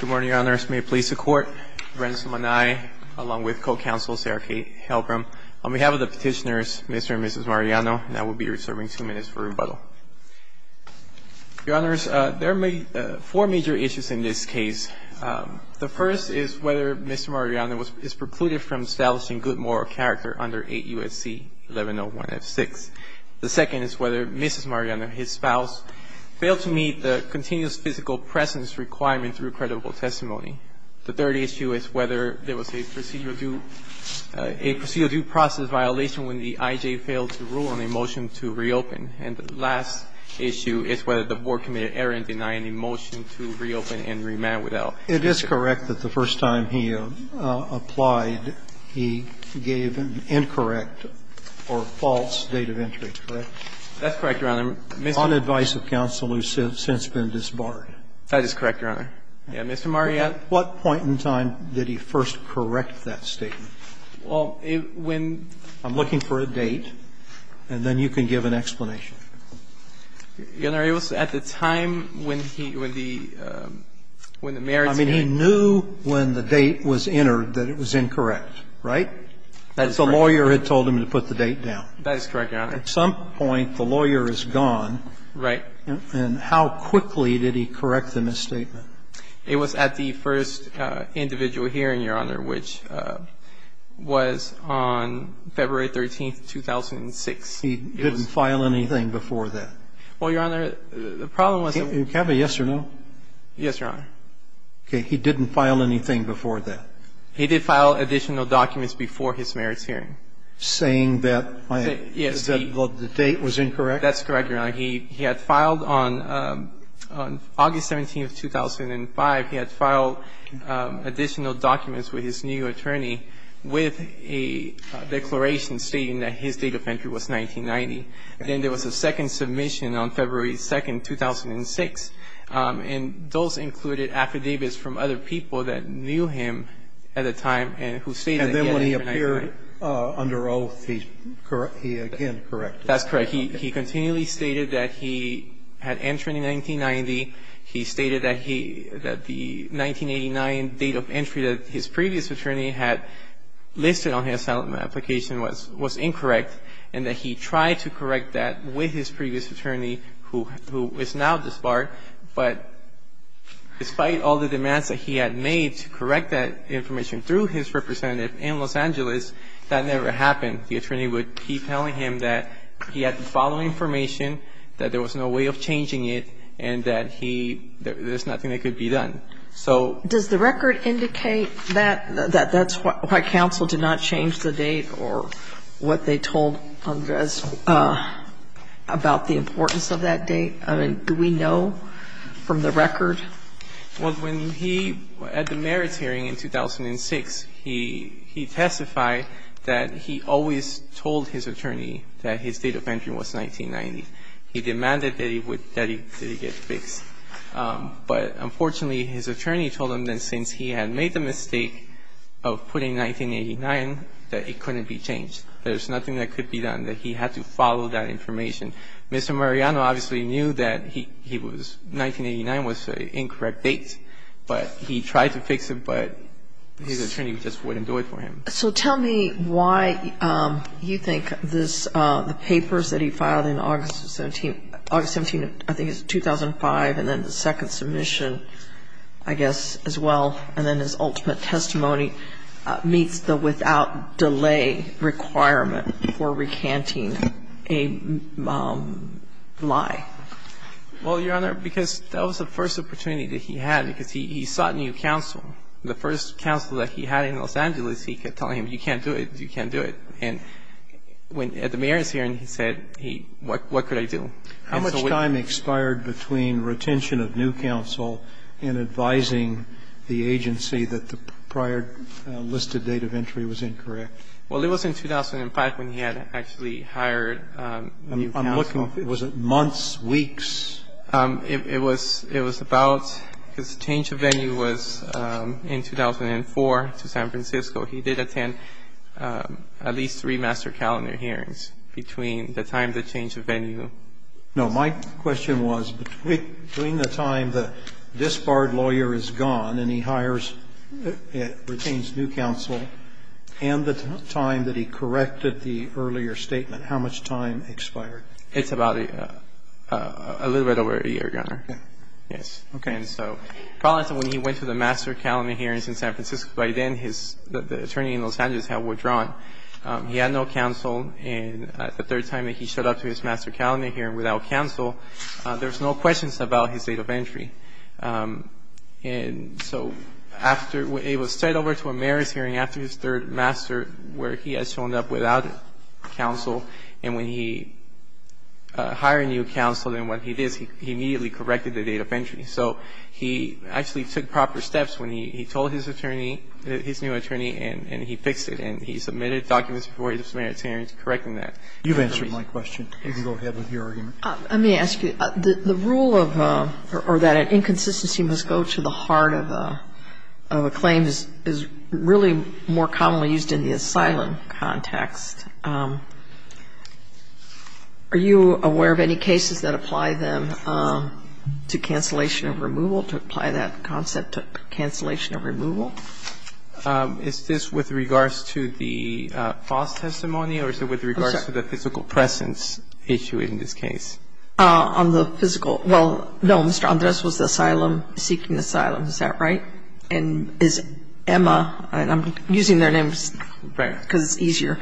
Good morning, Your Honors. May it please the Court, Bransom and I, along with co-counsel Sarah Kate Helbram, on behalf of the petitioners, Mr. and Mrs. Mariano, now we'll be reserving two minutes for rebuttal. Your Honors, there are four major issues in this case. The first is whether Mr. Mariano is precluded from establishing good moral character under 8 U.S.C. 1101F6. The second is whether Mrs. Mariano and his spouse fail to meet the continuous physical presence requirement through credible testimony. The third issue is whether there was a procedural due process violation when the I.J. failed to rule on a motion to reopen. And the last issue is whether the board committed error in denying a motion to reopen and remand without visit. It is correct that the first time he applied, he gave an incorrect or false date of entry, correct? That's correct, Your Honor. On advice of counsel who has since been disbarred. That is correct, Your Honor. Mr. Mariano? At what point in time did he first correct that statement? Well, when he was at the time when he, when the merits date was entered, that was incorrect. Right? That is correct. The lawyer had told him to put the date down. That is correct, Your Honor. At some point, the lawyer is gone. Right. And how quickly did he correct the misstatement? It was at the first individual hearing, Your Honor, which was on February 13th, 2006. He didn't file anything before that? Well, Your Honor, the problem was that he didn't file additional documents before his merits hearing. And I think that's what he was saying. That the date was incorrect? That's correct, Your Honor. He had filed on August 17th, 2005, he had filed additional documents with his new attorney with a declaration stating that his date of entry was 1990. Then there was a second submission on February 2nd, 2006, and those included affidavits from other people that knew him at the time and who stated that he had entered in the 1990, he stated that the 1989 date of entry that his previous attorney had listed on his settlement application was incorrect, and that he tried to correct that with his previous attorney who is now disbarred. But despite all the demands that he had made to correct that information through his representative in Los Angeles, that never happened. The attorney would keep telling him that he had to follow information, that there was no way of changing it, and that he, there's nothing that could be done. So. Does the record indicate that that's why counsel did not change the date or what they told Andres about the importance of that date? I mean, do we know from the record? Well, when he, at the merits hearing in 2006, he testified that he always told his attorney that his date of entry was 1990. He demanded that it would, that it get fixed. But unfortunately, his attorney told him that since he had made the mistake of putting 1989, that it couldn't be changed. There's nothing that could be done, that he had to follow that information. And Mr. Mariano obviously knew that he was, 1989 was the incorrect date, but he tried to fix it, but his attorney just wouldn't do it for him. So tell me why you think this, the papers that he filed in August of 17, August 17, I think it's 2005, and then the second submission, I guess, as well. And then his ultimate testimony meets the without delay requirement for recanting a lie. Well, Your Honor, because that was the first opportunity that he had, because he sought new counsel. The first counsel that he had in Los Angeles, he kept telling him, you can't do it, you can't do it. And when, at the merits hearing, he said, what could I do? And so we can't do it. How much time expired between retention of new counsel and advising the agency that the prior listed date of entry was incorrect? Well, it was in 2005 when he had actually hired new counsel. I'm looking, was it months, weeks? It was about, because the change of venue was in 2004 to San Francisco. He did attend at least three master calendar hearings between the time the change of venue. No, my question was, between the time the disbarred lawyer is gone and he hires, retains new counsel, and the time that he corrected the earlier statement, how much time expired? It's about a little bit over a year, Your Honor. Okay. Yes. Okay. And so, probably when he went to the master calendar hearings in San Francisco, by then his, the attorney in Los Angeles had withdrawn. He had no counsel. And the third time that he showed up to his master calendar hearing without counsel, there's no questions about his date of entry. And so after, it was straight over to a merits hearing after his third master, where he had shown up without counsel. And when he hired new counsel, and when he did, he immediately corrected the date of entry. So he actually took proper steps when he told his attorney, his new attorney, and he fixed it. And he submitted documents before his merits hearing to correct that. You've answered my question. You can go ahead with your argument. Let me ask you. The rule of, or that an inconsistency must go to the heart of a claim is really more commonly used in the asylum context. Are you aware of any cases that apply them to cancellation of removal, to apply that concept to cancellation of removal? Is this with regards to the false testimony or is it with regards to the physical presence issue in this case? On the physical, well, no, Mr. Andres was the asylum, seeking asylum, is that right? And is Emma, and I'm using their names because it's easier.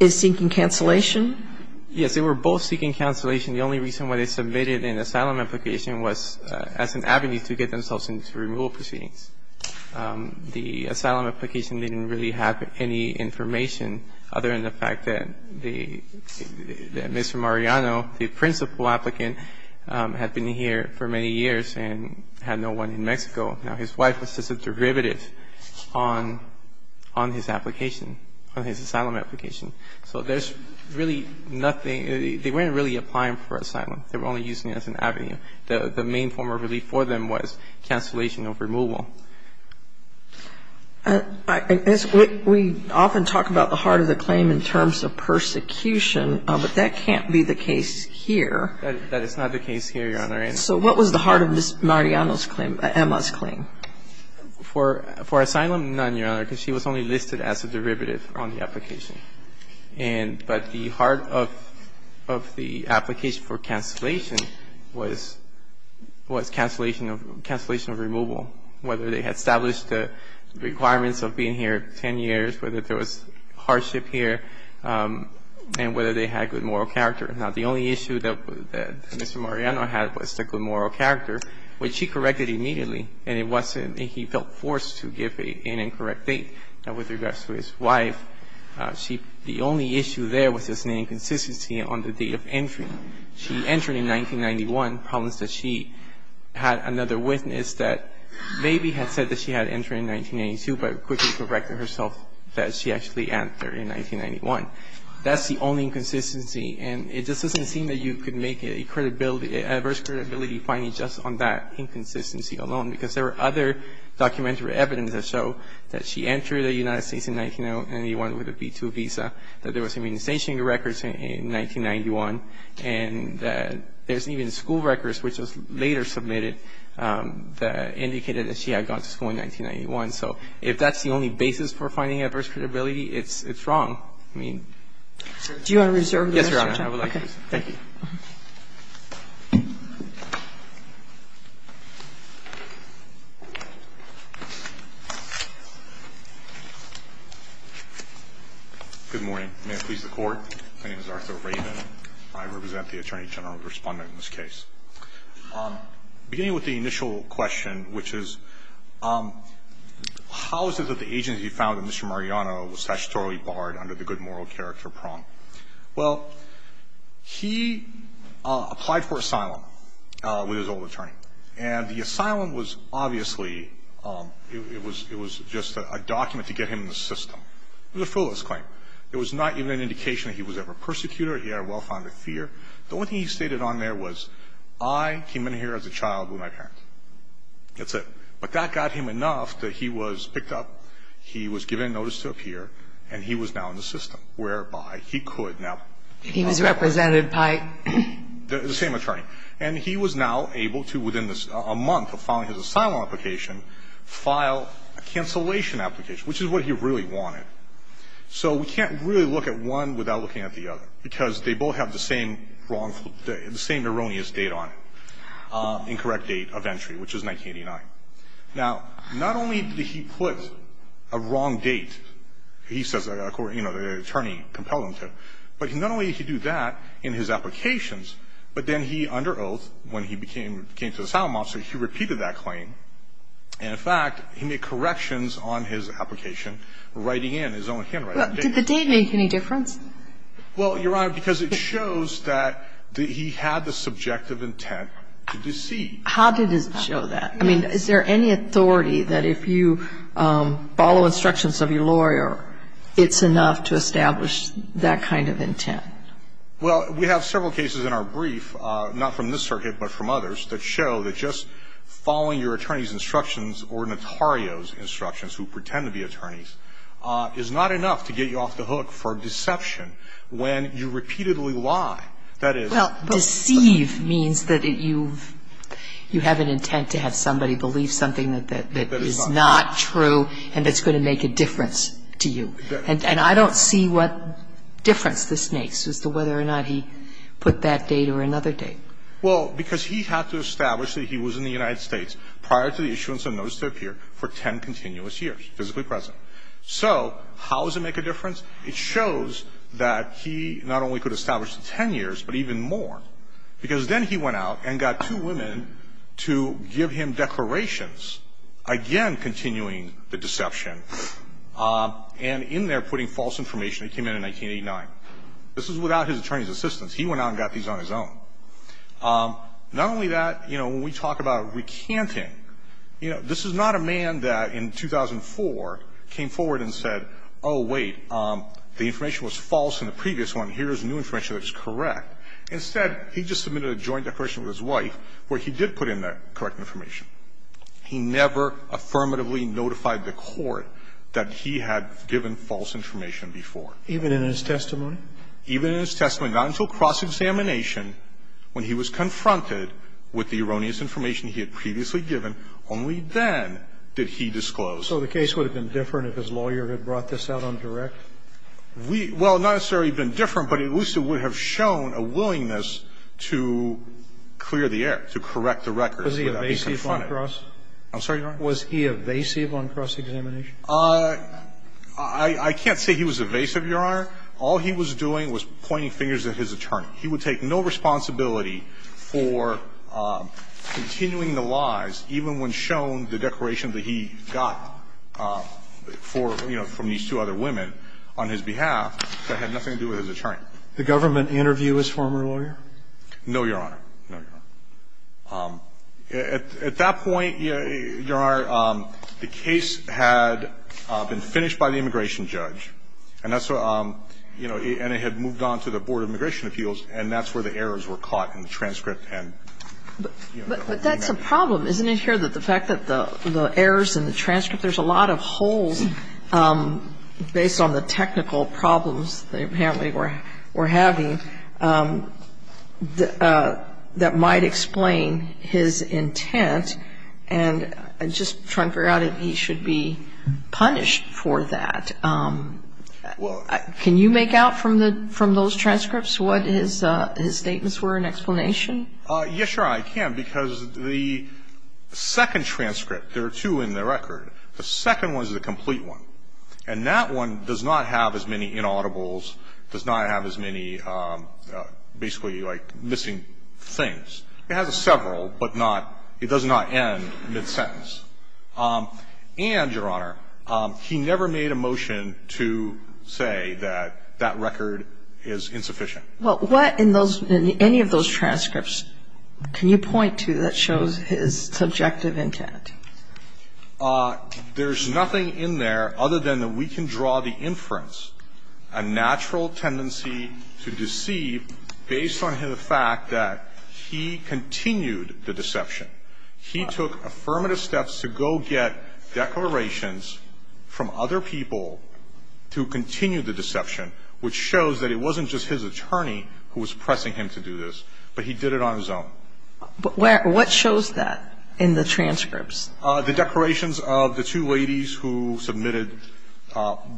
Is seeking cancellation? Yes, they were both seeking cancellation. The only reason why they submitted an asylum application was as an avenue to get themselves into removal proceedings. The asylum application didn't really have any information other than the fact that Mr. Mariano, the principal applicant, had been here for many years and had no one in Mexico. Now, his wife was just a derivative on his application, on his asylum application. So there's really nothing, they weren't really applying for asylum. They were only using it as an avenue. The main form of relief for them was cancellation of removal. We often talk about the heart of the claim in terms of persecution, but that can't be the case here. That is not the case here, Your Honor. So what was the heart of Ms. Mariano's claim, Emma's claim? For asylum, none, Your Honor, because she was only listed as a derivative on the application. But the heart of the application for cancellation was cancellation of removal, whether they had established the requirements of being here 10 years, whether there was hardship here, and whether they had good moral character. Now, the only issue that Mr. Mariano had was the good moral character, which he corrected immediately, and he felt forced to give an incorrect date. Now, with regards to his wife, the only issue there was just an inconsistency on the date of entry. She entered in 1991. Problem is that she had another witness that maybe had said that she had entered in 1992, but quickly corrected herself that she actually entered in 1991. That's the only inconsistency. And it just doesn't seem that you could make an adverse credibility finding just on that inconsistency alone, because there were other documentary evidence that show that she entered the United States in 1991 with a B-2 visa, that there was immunization records in 1991, and that there's even school records which was later submitted that indicated that she had gone to school in 1991. So if that's the only basis for finding adverse credibility, it's wrong. I mean. Do you want to reserve? Yes, Your Honor. I would like to. Thank you. Good morning. May it please the Court. My name is Arthur Raven. I represent the Attorney General Respondent in this case. Beginning with the initial question, which is how is it that the agency found that the good moral character pronged? Well, he applied for asylum with his old attorney. And the asylum was obviously, it was just a document to get him in the system. It was a full list claim. It was not even an indication that he was ever persecuted or he had a wealth under fear. The only thing he stated on there was, I came in here as a child with my parents. That's it. But that got him enough that he was picked up, he was given notice to appear, and he was now in the system, whereby he could now. He was represented by? The same attorney. And he was now able to, within a month of filing his asylum application, file a cancellation application, which is what he really wanted. So we can't really look at one without looking at the other, because they both have the same wrongful, the same erroneous date on it, incorrect date of entry, which is 1989. Now, not only did he put a wrong date, he says, you know, the attorney compelled him to, but not only did he do that in his applications, but then he, under oath, when he came to the asylum office, he repeated that claim. And in fact, he made corrections on his application, writing in his own handwriting. Did the date make any difference? Well, Your Honor, because it shows that he had the subjective intent to deceive. How did it show that? Is there any authority that if you follow instructions of your lawyer, it's enough to establish that kind of intent? Well, we have several cases in our brief, not from this circuit, but from others, that show that just following your attorney's instructions or notario's instructions, who pretend to be attorneys, is not enough to get you off the hook for deception when you repeatedly lie. That is. Well, deceive means that you have an intent to have somebody believe something that is not true and that's going to make a difference to you. And I don't see what difference this makes as to whether or not he put that date or another date. Well, because he had to establish that he was in the United States prior to the issuance of a notice to appear for 10 continuous years, physically present. So how does it make a difference? It shows that he not only could establish the 10 years, but even more. Because then he went out and got two women to give him declarations, again continuing the deception, and in there putting false information that came in in 1989. This is without his attorney's assistance. He went out and got these on his own. Not only that, you know, when we talk about recanting, you know, this is not a man that in 2004 came forward and said, oh, wait, the information was false in the previous one. Here is new information that's correct. Instead, he just submitted a joint declaration with his wife where he did put in the correct information. He never affirmatively notified the Court that he had given false information before. Even in his testimony? Even in his testimony. Not until cross-examination, when he was confronted with the erroneous information he had previously given, only then did he disclose. So the case would have been different if his lawyer had brought this out on direct? We – well, not necessarily been different, but at least it would have shown a willingness to clear the air, to correct the records without being confronted. Was he evasive on cross? I'm sorry, Your Honor? Was he evasive on cross-examination? I can't say he was evasive, Your Honor. All he was doing was pointing fingers at his attorney. He would take no responsibility for continuing the lies, even when shown the declaration that he got for, you know, from these two other women on his behalf, that had nothing to do with his attorney. The government interviewed his former lawyer? No, Your Honor. No, Your Honor. At that point, Your Honor, the case had been finished by the immigration judge, and that's what – you know, and it had moved on to the Board of Immigration Appeals, and that's where the errors were caught in the transcript and, you know, what he meant. But that's a problem, isn't it, here, that the fact that the errors in the transcript – there's a lot of holes based on the technical problems they apparently were having that might explain his intent, and just trying to figure out if he should be punished for that. Can you make out from those transcripts what his statements were in explanation? Yes, Your Honor, I can, because the second transcript – there are two in the record. The second one is the complete one, and that one does not have as many inaudibles, does not have as many basically, like, missing things. It has several, but not – it does not end mid-sentence. And, Your Honor, he never made a motion to say that that record is insufficient. Well, what in those – in any of those transcripts can you point to that shows his subjective intent? There's nothing in there other than that we can draw the inference, a natural tendency to deceive based on the fact that he continued the deception. He took affirmative steps to go get declarations from other people to continue the deception, which shows that it wasn't just his attorney who was pressing him to do this, but he did it on his own. But where – what shows that in the transcripts? The declarations of the two ladies who submitted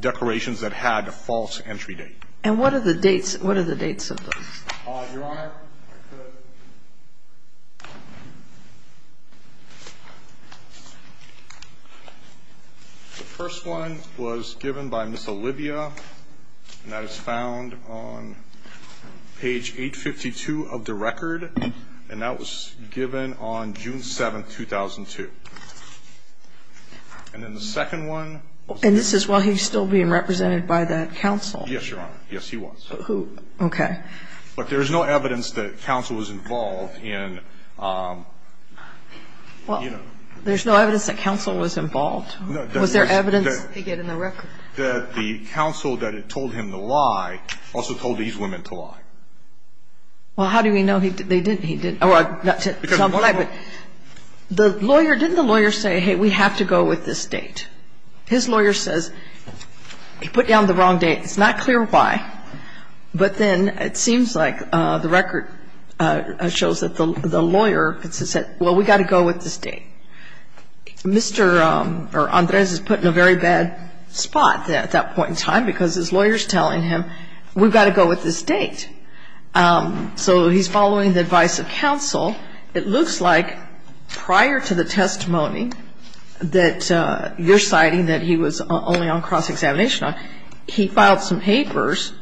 declarations that had a false entry date. And what are the dates – what are the dates of those? Your Honor, the first one was given by Ms. Olivia, and that is found on page 852 of the record, and that was given on June 7, 2002. And then the second one – And this is while he's still being represented by that counsel? Yes, Your Honor. Yes, he was. Who – okay. But there's no evidence that counsel was involved in – you know. There's no evidence that counsel was involved? No. Was there evidence they get in the record? That the counsel that had told him to lie also told these women to lie. Well, how do we know they didn't? He didn't. Well, I'm glad, but the lawyer – didn't the lawyer say, hey, we have to go with this date? His lawyer says he put down the wrong date. It's not clear why, but then it seems like the record shows that the lawyer said, well, we've got to go with this date. Mr. Andres is put in a very bad spot at that point in time because his lawyer's telling him, we've got to go with this date. So he's following the advice of counsel. It looks like prior to the testimony that you're citing that he was only on cross-examination, he filed some papers,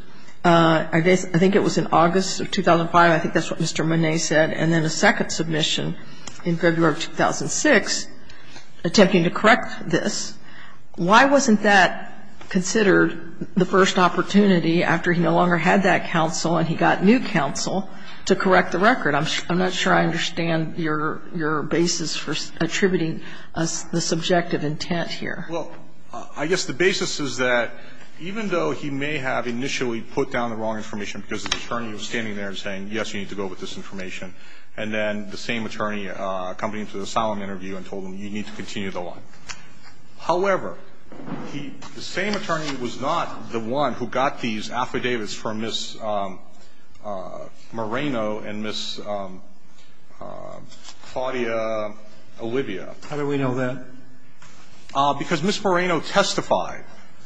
I think it was in August of 2005, I think that's what Mr. Monnet said, and then a second submission in February of 2006 attempting to correct this. Why wasn't that considered the first opportunity after he no longer had that counsel and he got new counsel to correct the record? I'm not sure I understand your basis for attributing the subjective intent here. Well, I guess the basis is that even though he may have initially put down the wrong information because his attorney was standing there and saying, yes, you need to go with this information, and then the same attorney coming to the solemn interview and told him, you need to continue the line. However, the same attorney was not the one who got these affidavits from Ms. Moreno and Ms. Claudia Olivia. How do we know that? Because Ms. Moreno testified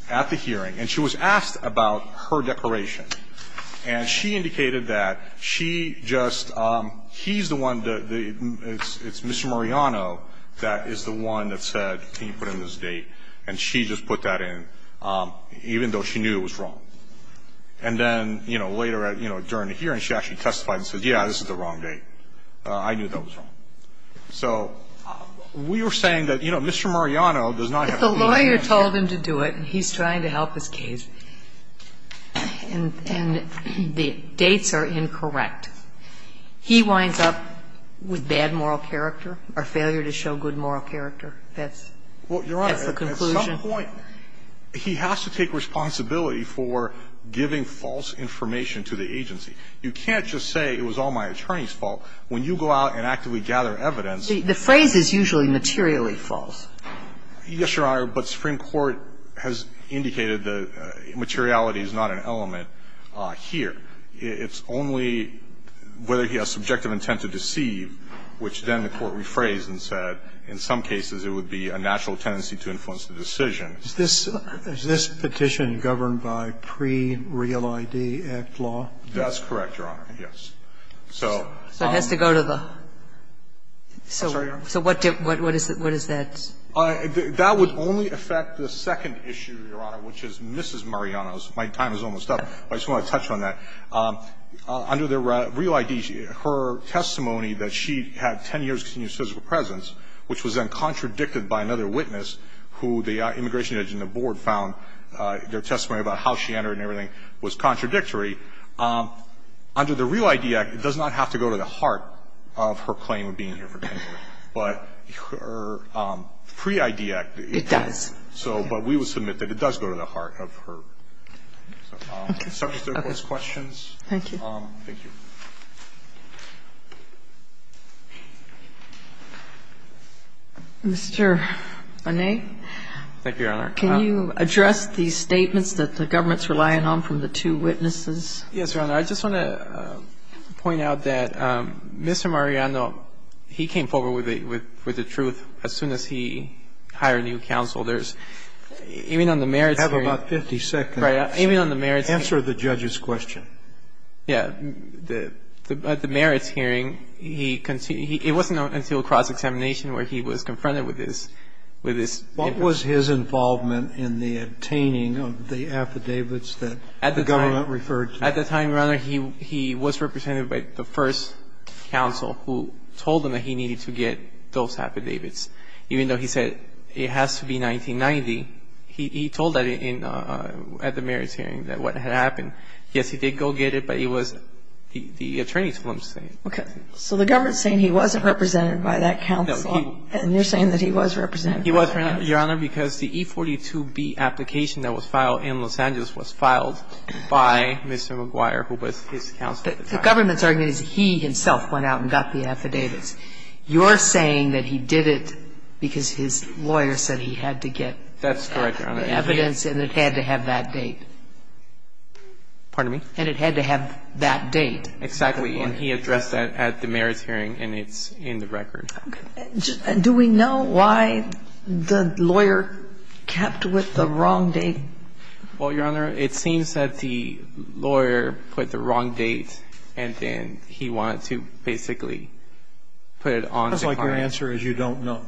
at the hearing and she was asked about her declaration. And she indicated that she just he's the one, it's Ms. Moreno that is the one that said, can you put in this date, and she just put that in, even though she knew it was wrong. And then, you know, later during the hearing she actually testified and said, yes, this is the wrong date. I knew that was wrong. So we were saying that, you know, Mr. Mariano does not have to do that. If the lawyer told him to do it, and he's trying to help his case, and the dates are incorrect, he winds up with bad moral character or failure to show good moral character, that's the conclusion. Well, Your Honor, at some point, he has to take responsibility for giving false information to the agency. You can't just say it was all my attorney's fault. When you go out and actively gather evidence. The phrase is usually materially false. Yes, Your Honor, but Supreme Court has indicated that materiality is not an element here. It's only whether he has subjective intent to deceive, which then the Court rephrased and said in some cases it would be a natural tendency to influence the decision. Is this petition governed by pre-Real ID Act law? That's correct, Your Honor, yes. So it has to go to the – so what is that? That would only affect the second issue, Your Honor, which is Mrs. Mariano's. My time is almost up, but I just want to touch on that. Under the Real ID, her testimony that she had 10 years of continuous physical presence, which was then contradicted by another witness who the immigration agent and the board found their testimony about how she entered and everything was contradictory, under the Real ID Act, it does not have to go to the heart of her claim of being here for 10 years, but her pre-ID Act, it does. It does. So, but we would submit that it does go to the heart of her. Okay. Okay. So, if there are no questions. Thank you. Thank you. Mr. Bonet. Thank you, Your Honor. Can you address the statements that the government's relying on from the two witnesses? Yes, Your Honor. I just want to point out that Mr. Mariano, he came forward with the truth as soon as he hired a new counsel. There's – even on the merits hearing. You have about 50 seconds. Right. Even on the merits hearing. Answer the judge's question. Yeah. The merits hearing, he – it wasn't until cross-examination where he was confronted with his – with his. What was his involvement in the obtaining of the affidavits that the government referred to? At the time, Your Honor, he was represented by the first counsel who told him that he needed to get those affidavits. Even though he said it has to be 1990, he told that in – at the merits hearing, that what had happened. Yes, he did go get it, but it was the attorney's film saying. Okay. So, the government's saying he wasn't represented by that counsel. No, he. And you're saying that he was represented by that counsel. He was, Your Honor, because the E-42B application that was filed in Los Angeles was filed by Mr. McGuire, who was his counsel at the time. The government's argument is he himself went out and got the affidavits. You're saying that he did it because his lawyer said he had to get the evidence and it had to have that date. Pardon me? And it had to have that date. Exactly. And he addressed that at the merits hearing, and it's in the record. Okay. Do we know why the lawyer kept with the wrong date? Well, Your Honor, it seems that the lawyer put the wrong date and then he wanted to basically put it on the client. It sounds like your answer is you don't know.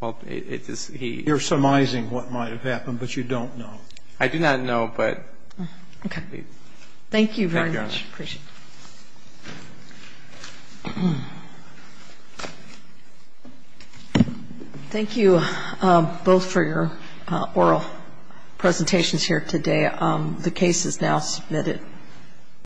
Well, it is he – You're surmising what might have happened, but you don't know. I do not know, but – Okay. Thank you very much. Thank you, Your Honor. I appreciate it. Thank you both for your oral presentations here today. The case is now submitted.